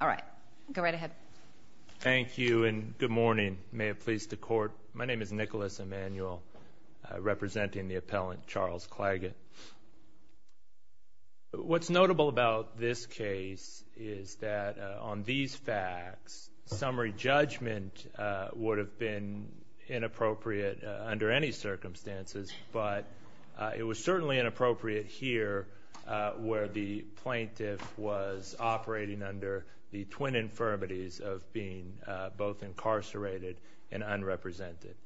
All right. Go right ahead. Thank you, and good morning. May it please the Court. My name is Nicholas Emanuel, representing the appellant, Charles Clagett. What's notable about this case is that on these facts, summary judgment would have been inappropriate under any circumstances, but it was certainly inappropriate here where the plaintiff was operating under the twin infirmities of being both incarcerated and unrepresented,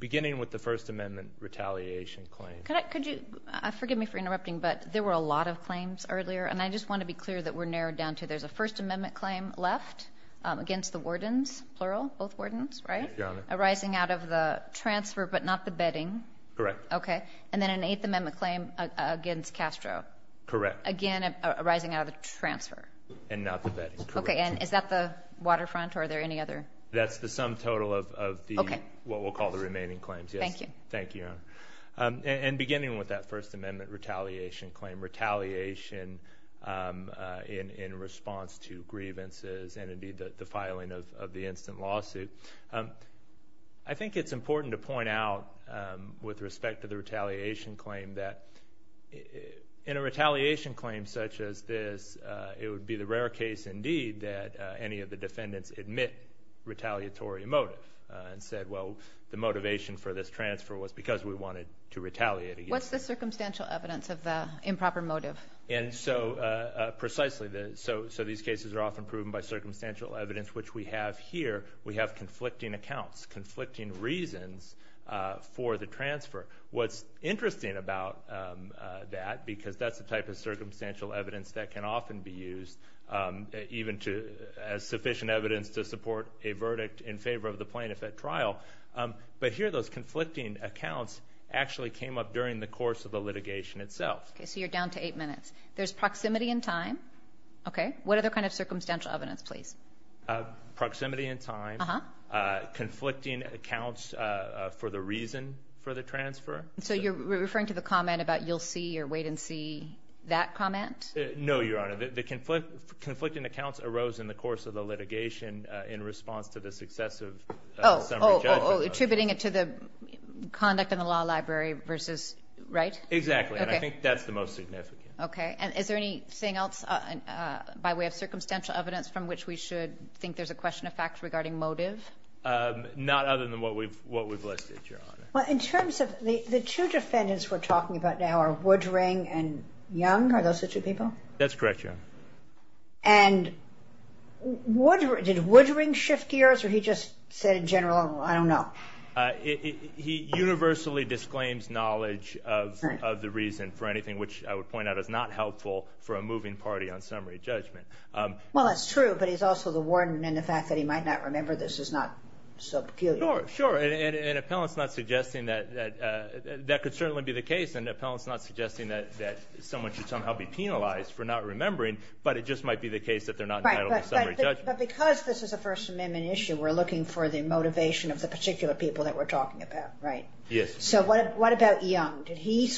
beginning with the First Amendment retaliation claim. Could you forgive me for interrupting, but there were a lot of claims earlier, and I just want to be clear that we're narrowed down to there's a First Amendment claim left against the wardens, plural, both wardens, right, arising out of the transfer, but not the bedding. Correct. Okay, and then an Eighth Amendment claim against Castro. Correct. Again, arising out of the transfer. And not the bedding. Okay, and is that the waterfront, or are there any other? That's the sum total of what we'll call the remaining claims, yes. Thank you. Thank you, Your Honor. And beginning with that First Amendment retaliation claim, retaliation in response to grievances and, indeed, the filing of the instant lawsuit, I think it's important to point out, with respect to the retaliation claim, that in a retaliation claim such as this, it would be the rare case, indeed, that any of the defendants admit retaliatory motive and said, well, the motivation for this transfer was because we wanted to retaliate. What's the circumstantial evidence of the improper motive? Precisely. So these cases are often proven by circumstantial evidence, which we have here. We have conflicting accounts, conflicting reasons for the transfer. What's interesting about that, because that's the type of circumstantial evidence that can often be used, even as sufficient evidence to support a verdict in favor of the plaintiff at trial, but here those conflicting accounts actually came up during the course of the litigation itself. Okay. So you're down to eight minutes. There's proximity in time. Okay. What other kind of circumstantial evidence, please? Proximity in time, conflicting accounts for the reason for the transfer. So you're referring to the comment about you'll see or wait and see that comment? No, Your Honor. The conflicting accounts arose in the course of the litigation in response to the success of summary judgment. Oh, attributing it to the conduct in the law library versus, right? Exactly, and I think that's the most significant. Okay. And is there anything else by way of circumstantial evidence from which we should think there's a question of fact regarding motive? Not other than what we've listed, Your Honor. Well, in terms of the two defendants we're talking about now are Woodring and Young. Are those the two people? That's correct, Your Honor. And did Woodring shift gears, or he just said in general, I don't know? He universally disclaims knowledge of the reason for anything, which I would point out is not helpful for a moving party on summary judgment. Well, that's true, but he's also the warden, and the fact that he might not remember this is not so peculiar. Sure, and an appellant's not suggesting that that could certainly be the case, and an appellant's not suggesting that someone should somehow be penalized for not remembering, but it just might be the case that they're not entitled to summary judgment. But because this is a First Amendment issue, we're looking for the motivation of the particular people that we're talking about, right? Yes. So what about Young? Did he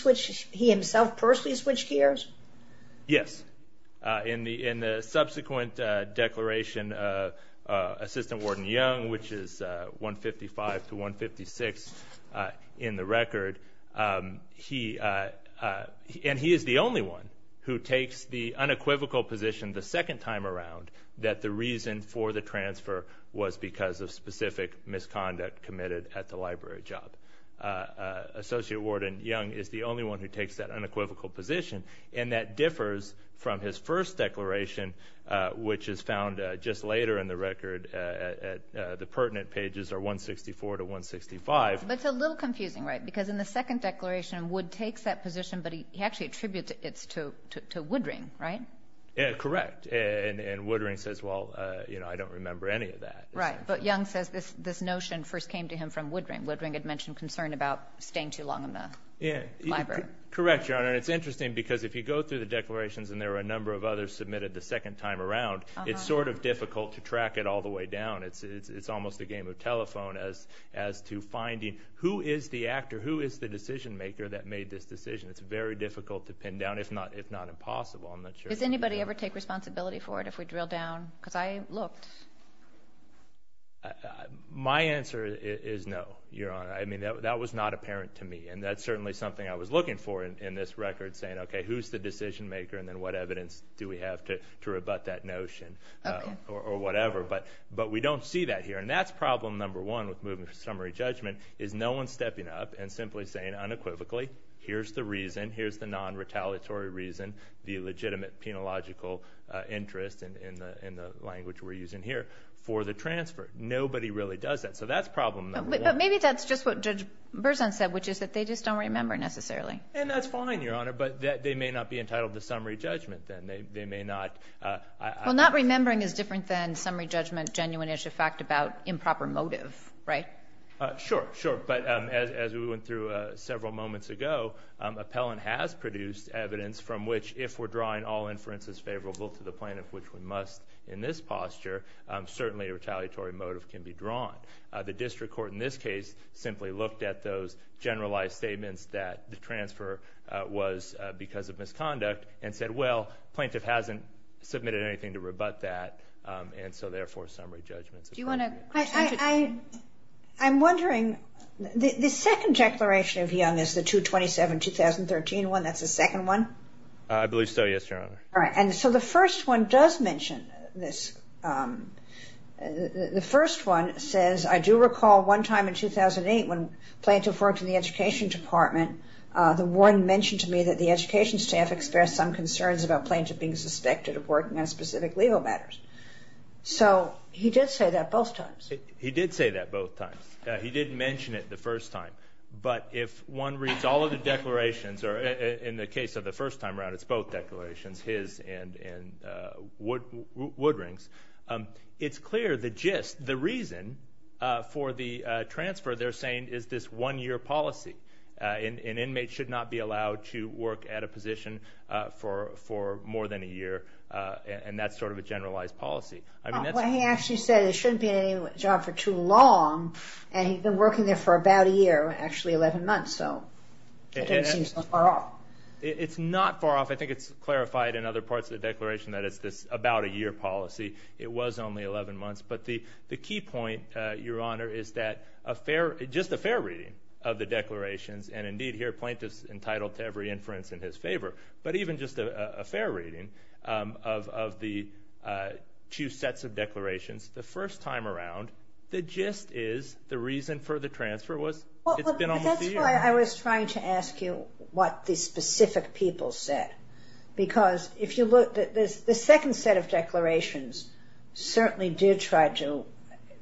himself personally switch gears? Yes. In the subsequent declaration, Assistant Warden Young, which is 155 to 156 in the record, and he is the only one who takes the unequivocal position the second time around that the reason for the transfer was because of specific misconduct committed at the library job. Associate Warden Young is the only one who takes that unequivocal position, and that differs from his first declaration, which is found just later in the record at the pertinent pages, or 164 to 165. But it's a little confusing, right? Because in the second declaration, Wood takes that position, but he actually attributes it to Woodring, right? Correct, and Woodring says, well, you know, I don't remember any of that. Right, but Young says this notion first came to him from Woodring. Woodring had mentioned concern about staying too long in the library. Correct, Your Honor, and it's interesting because if you go through the declarations and there are a number of others submitted the second time around, it's sort of difficult to track it all the way down. It's almost a game of telephone as to finding who is the actor, who is the decision maker that made this decision. It's very difficult to pin down, if not impossible. Does anybody ever take responsibility for it if we drill down? Because I looked. My answer is no, Your Honor. I mean, that was not apparent to me, and that's certainly something I was looking for in this record, saying, okay, who's the decision maker, and then what evidence do we have to rebut that notion or whatever. But we don't see that here, and that's problem number one with moving to summary judgment is no one stepping up and simply saying unequivocally, here's the reason, here's the non-retaliatory reason, the legitimate penological interest in the language we're using here for the transfer. Nobody really does that, so that's problem number one. But maybe that's just what Judge Berzon said, which is that they just don't remember necessarily. And that's fine, Your Honor, but they may not be entitled to summary judgment then. Well, not remembering is different than summary judgment, genuine issue, fact about improper motive, right? Sure, sure. But as we went through several moments ago, appellant has produced evidence from which if we're drawing all inferences favorable to the plaintiff, which we must in this posture, certainly a retaliatory motive can be drawn. The district court in this case simply looked at those generalized statements that the transfer was because of misconduct and said, well, plaintiff hasn't submitted anything to rebut that, and so therefore summary judgment is appropriate. I'm wondering, the second declaration of Young is the 227-2013 one, that's the second one? I believe so, yes, Your Honor. All right, and so the first one does mention this. The first one says, I do recall one time in 2008 when plaintiff worked in the education department, the warden mentioned to me that the education staff expressed some concerns about plaintiff being suspected of working on specific legal matters. So he did say that both times. He did say that both times. He did mention it the first time. But if one reads all of the declarations, or in the case of the first time around, it's both declarations, his and Woodring's, it's clear the gist, the reason for the transfer they're saying is this one-year policy. An inmate should not be allowed to work at a position for more than a year, and that's sort of a generalized policy. Well, he actually said it shouldn't be a job for too long, and he'd been working there for about a year, actually 11 months, so it doesn't seem so far off. It's not far off. I think it's clarified in other parts of the declaration that it's this about-a-year policy. It was only 11 months. But the key point, Your Honor, is that just a fair reading of the declarations, and indeed here plaintiff's entitled to every inference in his favor, but even just a fair reading of the two sets of declarations the first time around, the gist is the reason for the transfer was it's been almost a year. That's why I was trying to ask you what the specific people said, because if you look, the second set of declarations certainly did try to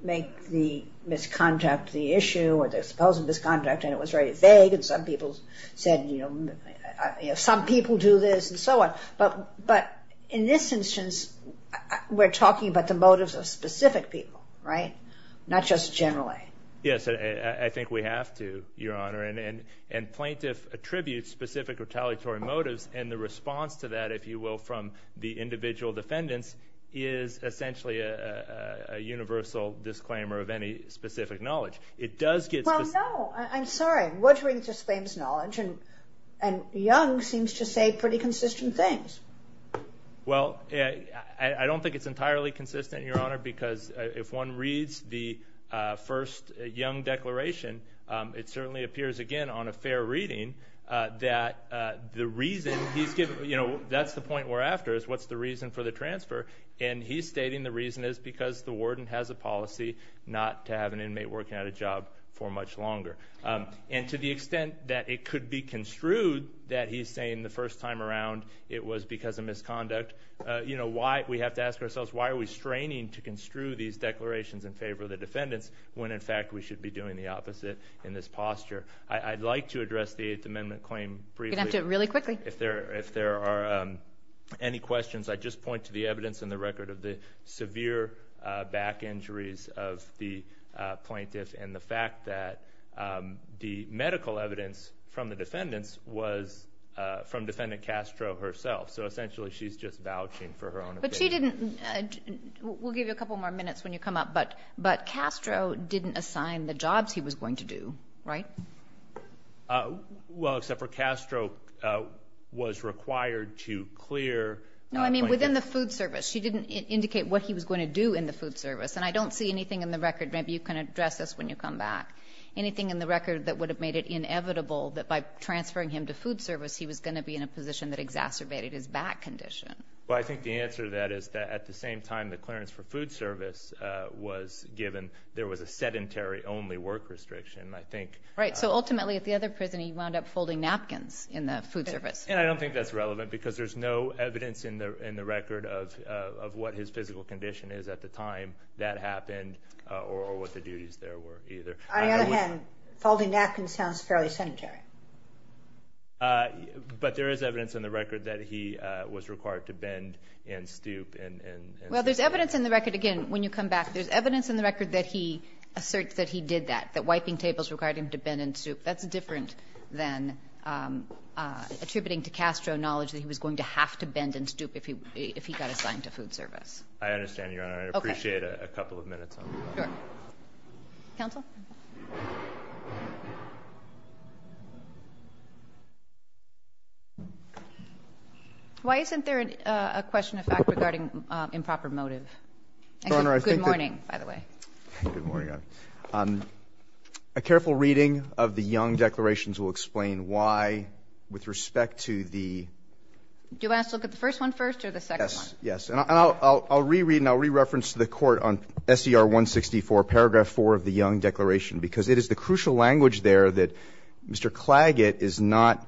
make the misconduct the issue or the supposed misconduct, and it was very vague, and some people said, you know, some people do this and so on. But in this instance, we're talking about the motives of specific people, right, not just generally. Yes, I think we have to, Your Honor, and plaintiff attributes specific retaliatory motives, and the response to that, if you will, from the individual defendants, is essentially a universal disclaimer of any specific knowledge. It does get specific. Well, no. I'm sorry. Woodring disclaims knowledge, and Young seems to say pretty consistent things. Well, I don't think it's entirely consistent, Your Honor, because if one reads the first Young declaration, it certainly appears, again, on a fair reading, that the reason he's giving, you know, that's the point we're after is what's the reason for the transfer, and he's stating the reason is because the warden has a policy not to have an inmate working at a job for much longer. And to the extent that it could be construed that he's saying the first time around it was because of misconduct, you know, we have to ask ourselves, why are we straining to construe these declarations in favor of the defendants when, in fact, we should be doing the opposite in this posture? I'd like to address the Eighth Amendment claim briefly. You're going to have to really quickly. If there are any questions, I'd just point to the evidence in the record of the severe back injuries of the plaintiff and the fact that the medical evidence from the defendants was from Defendant Castro herself. So essentially she's just vouching for her own opinion. But she didn't. We'll give you a couple more minutes when you come up. But Castro didn't assign the jobs he was going to do, right? Well, except for Castro was required to clear. No, I mean within the food service. She didn't indicate what he was going to do in the food service. And I don't see anything in the record. Maybe you can address this when you come back. Anything in the record that would have made it inevitable that by transferring him to food service, he was going to be in a position that exacerbated his back condition? Well, I think the answer to that is that at the same time the clearance for food service was given, there was a sedentary only work restriction, I think. Right. So ultimately at the other prison he wound up folding napkins in the food service. And I don't think that's relevant because there's no evidence in the record of what his physical condition is at the time that happened or what the duties there were either. On the other hand, folding napkins sounds fairly sedentary. But there is evidence in the record that he was required to bend and stoop. Well, there's evidence in the record, again, when you come back, there's evidence in the record that he asserts that he did that, that wiping tables required him to bend and stoop. That's different than attributing to Castro knowledge that he was going to have to bend and stoop if he got assigned to food service. I understand, Your Honor. I'd appreciate a couple of minutes on that. Sure. Counsel. Why isn't there a question of fact regarding improper motive? Good morning, by the way. Good morning, Your Honor. A careful reading of the Young declarations will explain why with respect to the ---- Do I have to look at the first one first or the second one? Yes. And I'll reread and I'll re-reference to the Court on S.E.R. 164, paragraph 4 of the Young declaration, because it is the crucial language there that Mr. Claggett is not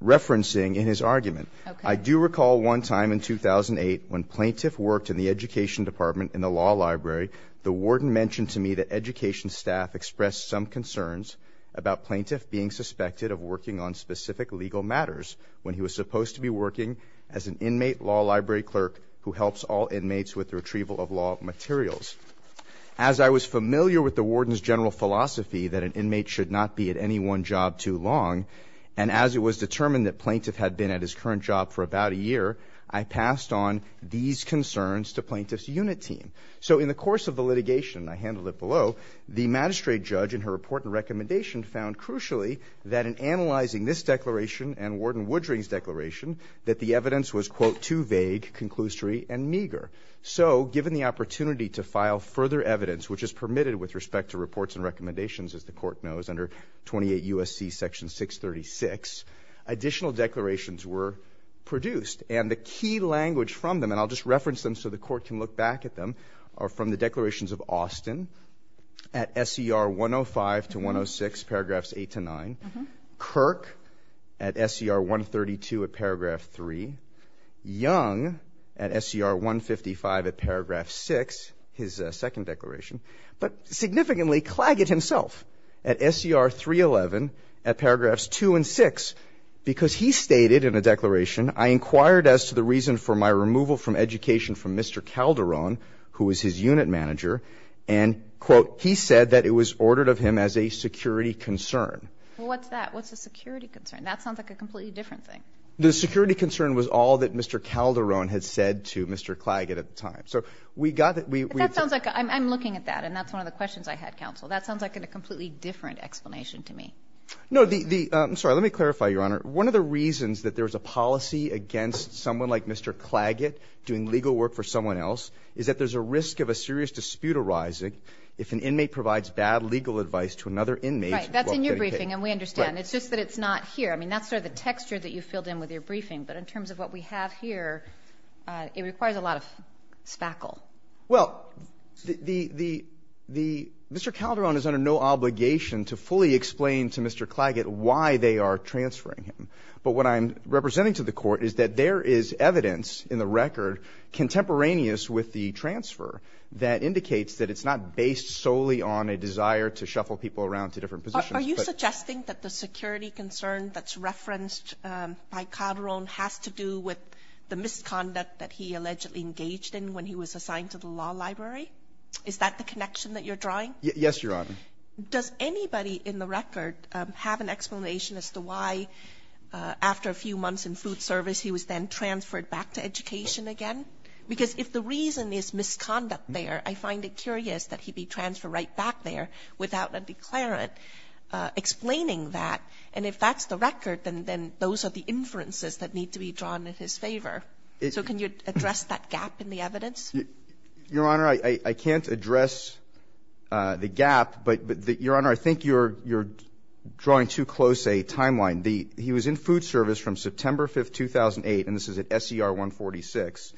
referencing in his argument. Okay. I do recall one time in 2008 when plaintiff worked in the education department in the law library, the warden mentioned to me that education staff expressed some concerns about plaintiff being suspected of working on specific legal matters when he was supposed to be working as an inmate law library clerk who helps all inmates with the retrieval of law materials. As I was familiar with the warden's general philosophy that an inmate should not be at any one job too long, and as it was determined that plaintiff had been at his current job for about a year, I passed on these concerns to plaintiff's unit team. So in the course of the litigation, I handled it below, the magistrate judge in her report and recommendation found crucially that in her report and recommendation that the evidence was, quote, too vague, conclusory, and meager. So given the opportunity to file further evidence, which is permitted with respect to reports and recommendations, as the Court knows, under 28 U.S.C. Section 636, additional declarations were produced. And the key language from them, and I'll just reference them so the Court can look back at them, are from the declarations of Austin at S.E.R. 105 to 106, paragraphs 8 to 9. Kirk at S.E.R. 132 at paragraph 3. Young at S.E.R. 155 at paragraph 6, his second declaration. But significantly, Claggett himself at S.E.R. 311 at paragraphs 2 and 6, because he stated in a declaration, I inquired as to the reason for my removal from education from Mr. Calderon, who was his unit manager, and, quote, he said that it was ordered of him as a security concern. Well, what's that? What's a security concern? That sounds like a completely different thing. The security concern was all that Mr. Calderon had said to Mr. Claggett at the time. So we got the ---- But that sounds like a ---- I'm looking at that, and that's one of the questions I had, Counsel. That sounds like a completely different explanation to me. No, the ---- I'm sorry. Let me clarify, Your Honor. One of the reasons that there was a policy against someone like Mr. Claggett doing legal work for someone else is that there's a risk of a serious dispute arising if an inmate provides bad legal advice to another inmate ---- Right. That's in your briefing, and we understand. It's just that it's not here. I mean, that's sort of the texture that you filled in with your briefing. But in terms of what we have here, it requires a lot of spackle. Well, the ---- Mr. Calderon is under no obligation to fully explain to Mr. Claggett why they are transferring him. But what I'm representing to the Court is that there is evidence in the record contemporaneous with the transfer that indicates that it's not based solely on a desire to shuffle people around to different positions. But ---- Are you suggesting that the security concern that's referenced by Calderon has to do with the misconduct that he allegedly engaged in when he was assigned to the law library? Is that the connection that you're drawing? Yes, Your Honor. Does anybody in the record have an explanation as to why, after a few months in food service, he was then transferred back to education again? Because if the reason is misconduct there, I find it curious that he be transferred right back there without a declarant explaining that. And if that's the record, then those are the inferences that need to be drawn in his favor. So can you address that gap in the evidence? Your Honor, I can't address the gap, but, Your Honor, I think you're drawing too close a timeline. He was in food service from September 5, 2008, and this is at SER 146,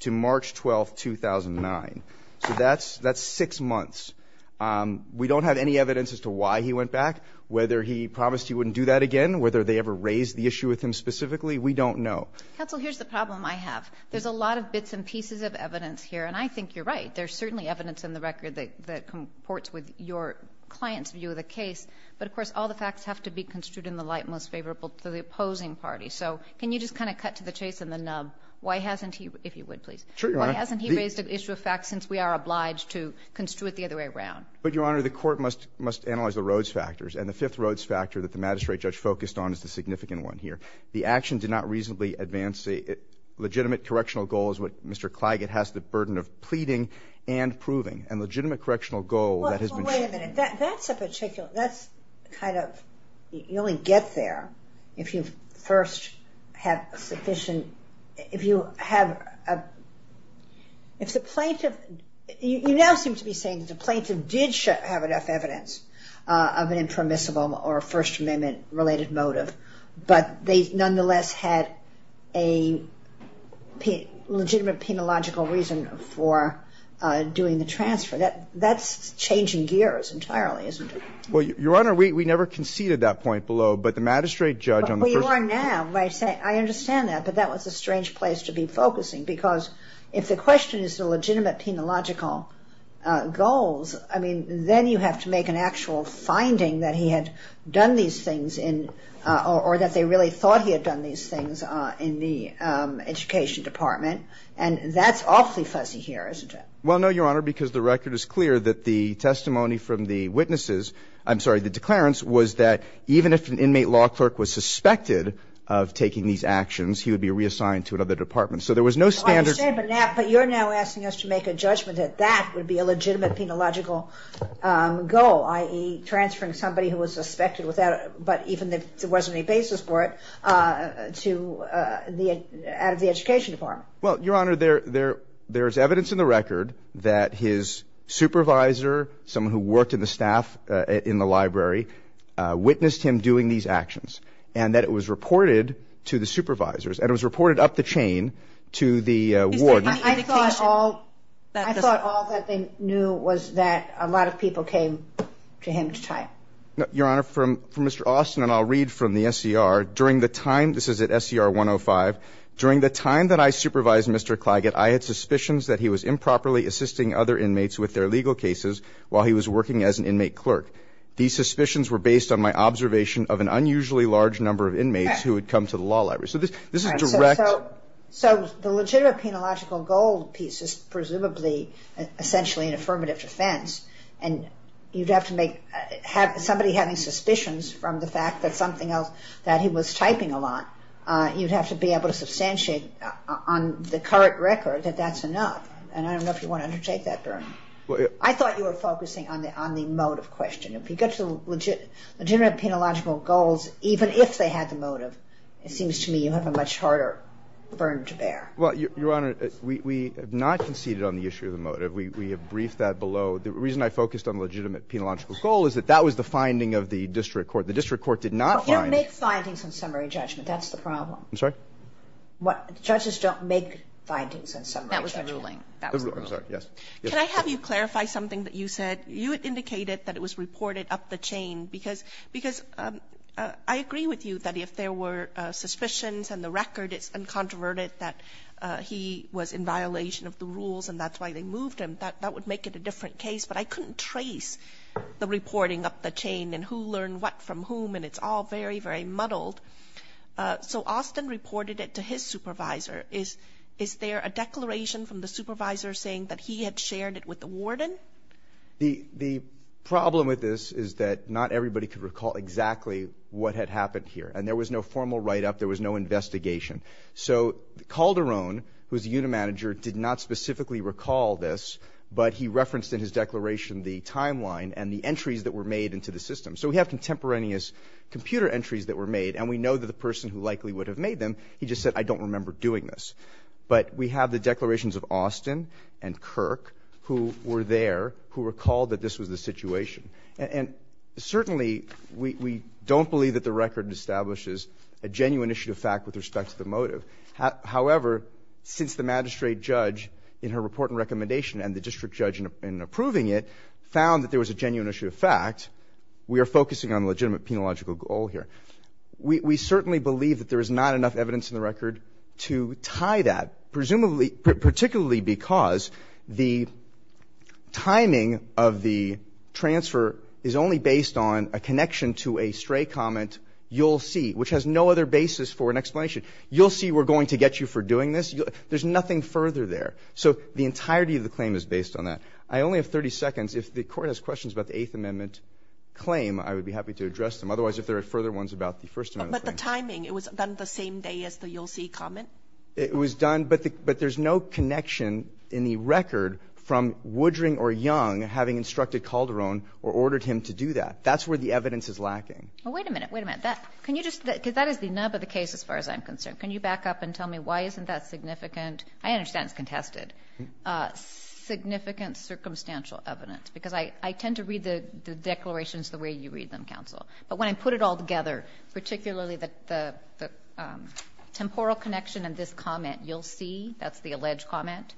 to March 12, 2009. So that's six months. We don't have any evidence as to why he went back, whether he promised he wouldn't do that again, whether they ever raised the issue with him specifically. We don't know. Counsel, here's the problem I have. There's a lot of bits and pieces of evidence here, and I think you're right. There's certainly evidence in the record that comports with your client's view of the case, but, of course, all the facts have to be construed in the light most favorable to the opposing party. So can you just kind of cut to the chase and the nub? Why hasn't he raised an issue of facts since we are obliged to construe it the other way around? But, Your Honor, the Court must analyze the Rhodes factors, and the fifth Rhodes factor that the magistrate judge focused on is the significant one here. The action did not reasonably advance the legitimate correctional goal, as Mr. Wait a minute. That's a particular, that's kind of, you only get there if you first have sufficient, if you have, if the plaintiff, you now seem to be saying that the plaintiff did have enough evidence of an impermissible or a First Amendment related motive, but they nonetheless had a legitimate penological reason for doing the transfer. That's changing gears entirely, isn't it? Well, Your Honor, we never conceded that point below, but the magistrate judge on the first point... Well, you are now. I understand that, but that was a strange place to be focusing because if the question is the legitimate penological goals, I mean, then you have to make an actual finding that he had done these things in, or that they really thought he had done these things in the education department, and that's awfully fuzzy here, isn't it? Well, no, Your Honor, because the record is clear that the testimony from the witnesses — I'm sorry, the declarants — was that even if an inmate law clerk was suspected of taking these actions, he would be reassigned to another department. So there was no standard... I understand, but now, but you're now asking us to make a judgment that that would be a legitimate penological goal, i.e., transferring somebody who was suspected without — but even if there wasn't any basis for it — out of the education department. Well, Your Honor, there is evidence in the record that his supervisor, someone who worked in the staff in the library, witnessed him doing these actions, and that it was reported to the supervisors, and it was reported up the chain to the warden. Is there any indication that this... I thought all that they knew was that a lot of people came to him to try. Your Honor, from Mr. Austin, and I'll read from the SCR, during the time — this is at SCR 105 — during the time that I supervised Mr. Claggett, I had suspicions that he was improperly assisting other inmates with their legal cases while he was working as an inmate clerk. These suspicions were based on my observation of an unusually large number of inmates who had come to the law library. So this is direct... So the legitimate penological goal piece is presumably essentially an affirmative defense, and you'd have to make — somebody having suspicions from the fact that something else that he was typing a lot, you'd have to be able to substantiate on the current record that that's enough. And I don't know if you want to undertake that, Bern. I thought you were focusing on the motive question. If you get to legitimate penological goals, even if they had the motive, it seems to me you have a much harder burden to bear. Well, Your Honor, we have not conceded on the issue of the motive. We have briefed that below. The reason I focused on the legitimate penological goal is that that was the finding of the district court. The district court did not find... You don't make findings on summary judgment. That's the problem. I'm sorry? What? Judges don't make findings on summary judgment. That was the ruling. That was the ruling. Can I have you clarify something that you said? You indicated that it was reported up the chain because — because I agree with you that if there were suspicions and the record, it's uncontroverted that he was in violation of the rules and that's why they moved him. That would make it a different case. But I couldn't trace the reporting up the chain and who learned what from whom, and it's all very, very muddled. So Austin reported it to his supervisor. Is there a declaration from the supervisor saying that he had shared it with the warden? The problem with this is that not everybody could recall exactly what had happened here. And there was no formal write-up. There was no investigation. So Calderon, who is the unit manager, did not specifically recall this, but he referenced in his declaration the timeline and the entries that were made into the system. So we have contemporaneous computer entries that were made, and we know that the person who likely would have made them, he just said, I don't remember doing this. But we have the declarations of Austin and Kirk who were there who recalled that this was the situation. And certainly we don't believe that the record establishes a genuine issue of fact with respect to the motive. However, since the magistrate judge in her report and recommendation and the district judge in approving it found that there was a genuine issue of fact, we are focusing on the legitimate penological goal here. We certainly believe that there is not enough evidence in the record to tie that, presumably, particularly because the timing of the transfer is only based on a connection to a stray comment, you'll see, which has no other basis for an explanation. You'll see we're going to get you for doing this. There's nothing further there. So the entirety of the claim is based on that. I only have 30 seconds. If the Court has questions about the Eighth Amendment claim, I would be happy to address them. Otherwise, if there are further ones about the First Amendment claim. Kagan. But the timing, it was done the same day as the you'll see comment? It was done, but there's no connection in the record from Woodring or Young having instructed Calderon or ordered him to do that. That's where the evidence is lacking. Well, wait a minute. Wait a minute. Can you just, because that is the nub of the case as far as I'm concerned. Can you back up and tell me why isn't that significant? I understand it's contested. Significant circumstantial evidence, because I tend to read the declarations the way you read them, counsel. But when I put it all together, particularly the temporal connection in this comment, you'll see, that's the alleged comment,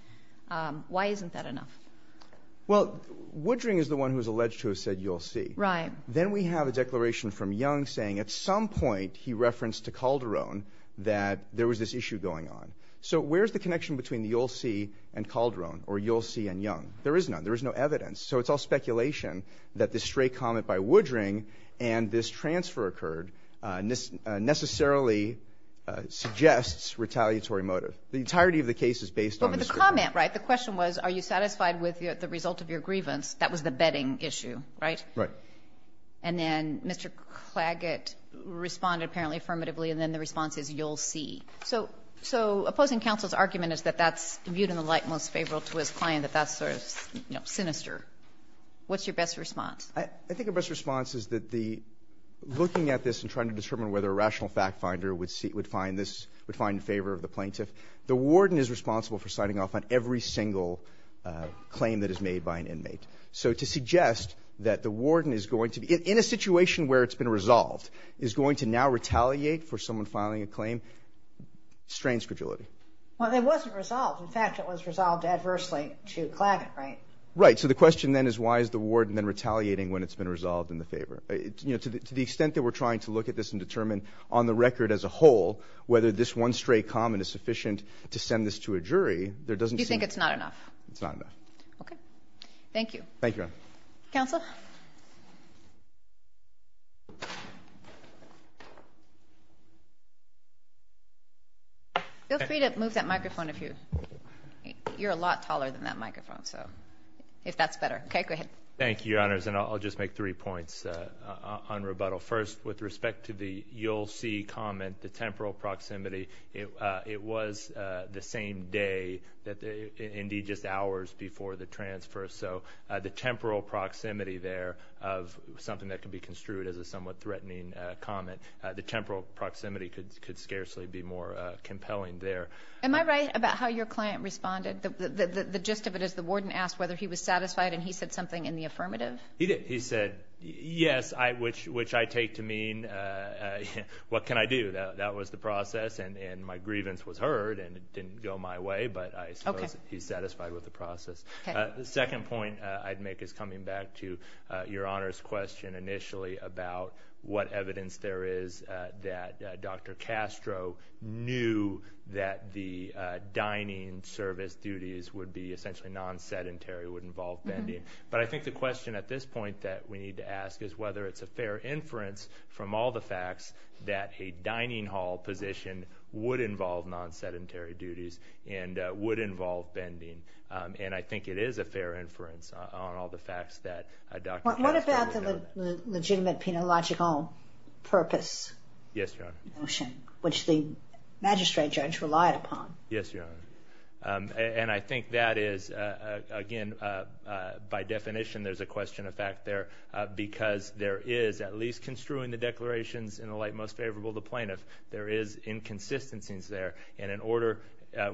why isn't that enough? Well, Woodring is the one who's alleged to have said you'll see. Then we have a declaration from Young saying at some point he referenced to Calderon that there was this issue going on. So where's the connection between the you'll see and Calderon or you'll see and Young? There is none. There is no evidence. So it's all speculation that this stray comment by Woodring and this transfer occurred necessarily suggests retaliatory motive. The entirety of the case is based on this. But the comment, right, the question was are you satisfied with the result of your grievance? That was the betting issue, right? Right. And then Mr. Claggett responded apparently affirmatively, and then the response is you'll see. So opposing counsel's argument is that that's viewed in the light most favorable to his client, that that's sort of sinister. What's your best response? I think our best response is that the looking at this and trying to determine whether a rational fact finder would find this, would find in favor of the plaintiff. The warden is responsible for signing off on every single claim that is made by an inmate. So to suggest that the warden is going to be, in a situation where it's been resolved, is going to now retaliate for someone filing a claim strains credulity. Well, it wasn't resolved. In fact, it was resolved adversely to Claggett, right? Right. So the question then is why is the warden then retaliating when it's been resolved in the favor? To the extent that we're trying to look at this and determine on the record as a whole whether this one stray comment is sufficient to send this to a jury, there doesn't seem to be. You think it's not enough? It's not enough. Okay. Thank you. Thank you, Your Honor. Counsel? Feel free to move that microphone if you're a lot taller than that microphone, if that's better. Okay, go ahead. Thank you, Your Honors, and I'll just make three points on rebuttal. First, with respect to the you'll see comment, the temporal proximity, it was the same day, indeed just hours before the transfer, so the temporal proximity there of something that could be construed as a somewhat threatening comment, the temporal proximity could scarcely be more compelling there. Am I right about how your client responded? The gist of it is the warden asked whether he was satisfied, and he said something in the affirmative? He did. He said, yes, which I take to mean what can I do? That was the process, and my grievance was heard, and it didn't go my way, but I suppose he's satisfied with the process. The second point I'd make is coming back to Your Honor's question initially about what evidence there is that Dr. Castro knew that the dining service duties would be essentially non-sedentary, would involve bending. But I think the question at this point that we need to ask is whether it's a dining hall position would involve non-sedentary duties and would involve bending. And I think it is a fair inference on all the facts that Dr. Castro knew. What about the legitimate penological purpose? Yes, Your Honor. Which the magistrate judge relied upon. Yes, Your Honor. And I think that is, again, by definition there's a question of fact there because there is at least construing the declarations in the light most favorable to plaintiff. There is inconsistencies there, and in order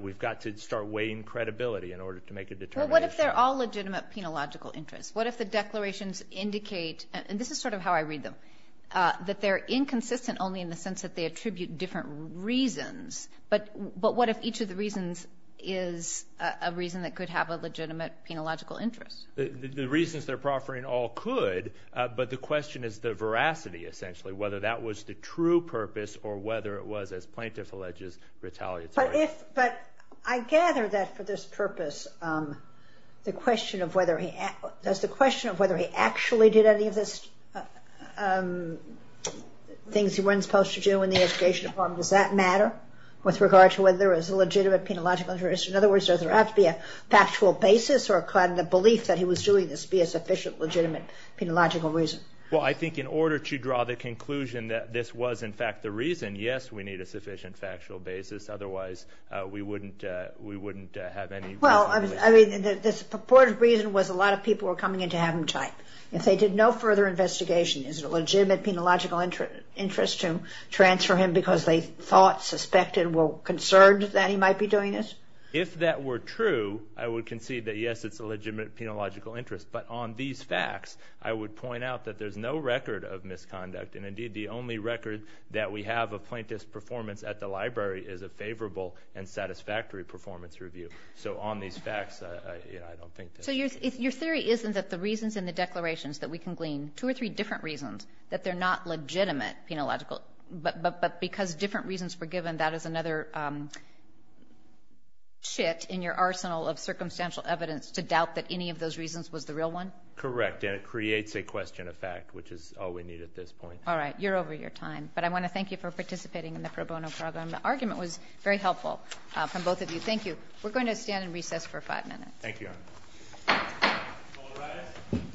we've got to start weighing credibility in order to make a determination. Well, what if they're all legitimate penological interests? What if the declarations indicate, and this is sort of how I read them, that they're inconsistent only in the sense that they attribute different reasons, but what if each of the reasons is a reason that could have a legitimate penological interest? The reasons they're proffering all could, but the question is the veracity, essentially, whether that was the true purpose or whether it was, as plaintiff alleges, retaliatory. But I gather that for this purpose, the question of whether he actually did any of the things he wasn't supposed to do in the education department, does that matter with regard to whether there is a legitimate penological interest? In other words, does there have to be a factual basis or could the belief that he was doing this be a sufficient legitimate penological reason? Well, I think in order to draw the conclusion that this was, in fact, the reason, yes, we need a sufficient factual basis, otherwise we wouldn't have any reason. Well, I mean, the purported reason was a lot of people were coming in to have him typed. If they did no further investigation, is it a legitimate penological interest to transfer him because they thought, suspected, were concerned that he might be doing this? If that were true, I would concede that, yes, it's a legitimate penological interest. But on these facts, I would point out that there's no record of misconduct. And indeed, the only record that we have of plaintiff's performance at the library is a favorable and satisfactory performance review. So on these facts, I don't think that's true. So your theory isn't that the reasons in the declarations that we can glean, two or three different reasons that they're not legitimate penological, but because different reasons were given, that is another chit in your arsenal of circumstantial evidence to doubt that any of those reasons was the real one? Correct. And it creates a question of fact, which is all we need at this point. All right. You're over your time. But I want to thank you for participating in the pro bono program. The argument was very helpful from both of you. Thank you. We're going to stand in recess for five minutes. Thank you. All rise.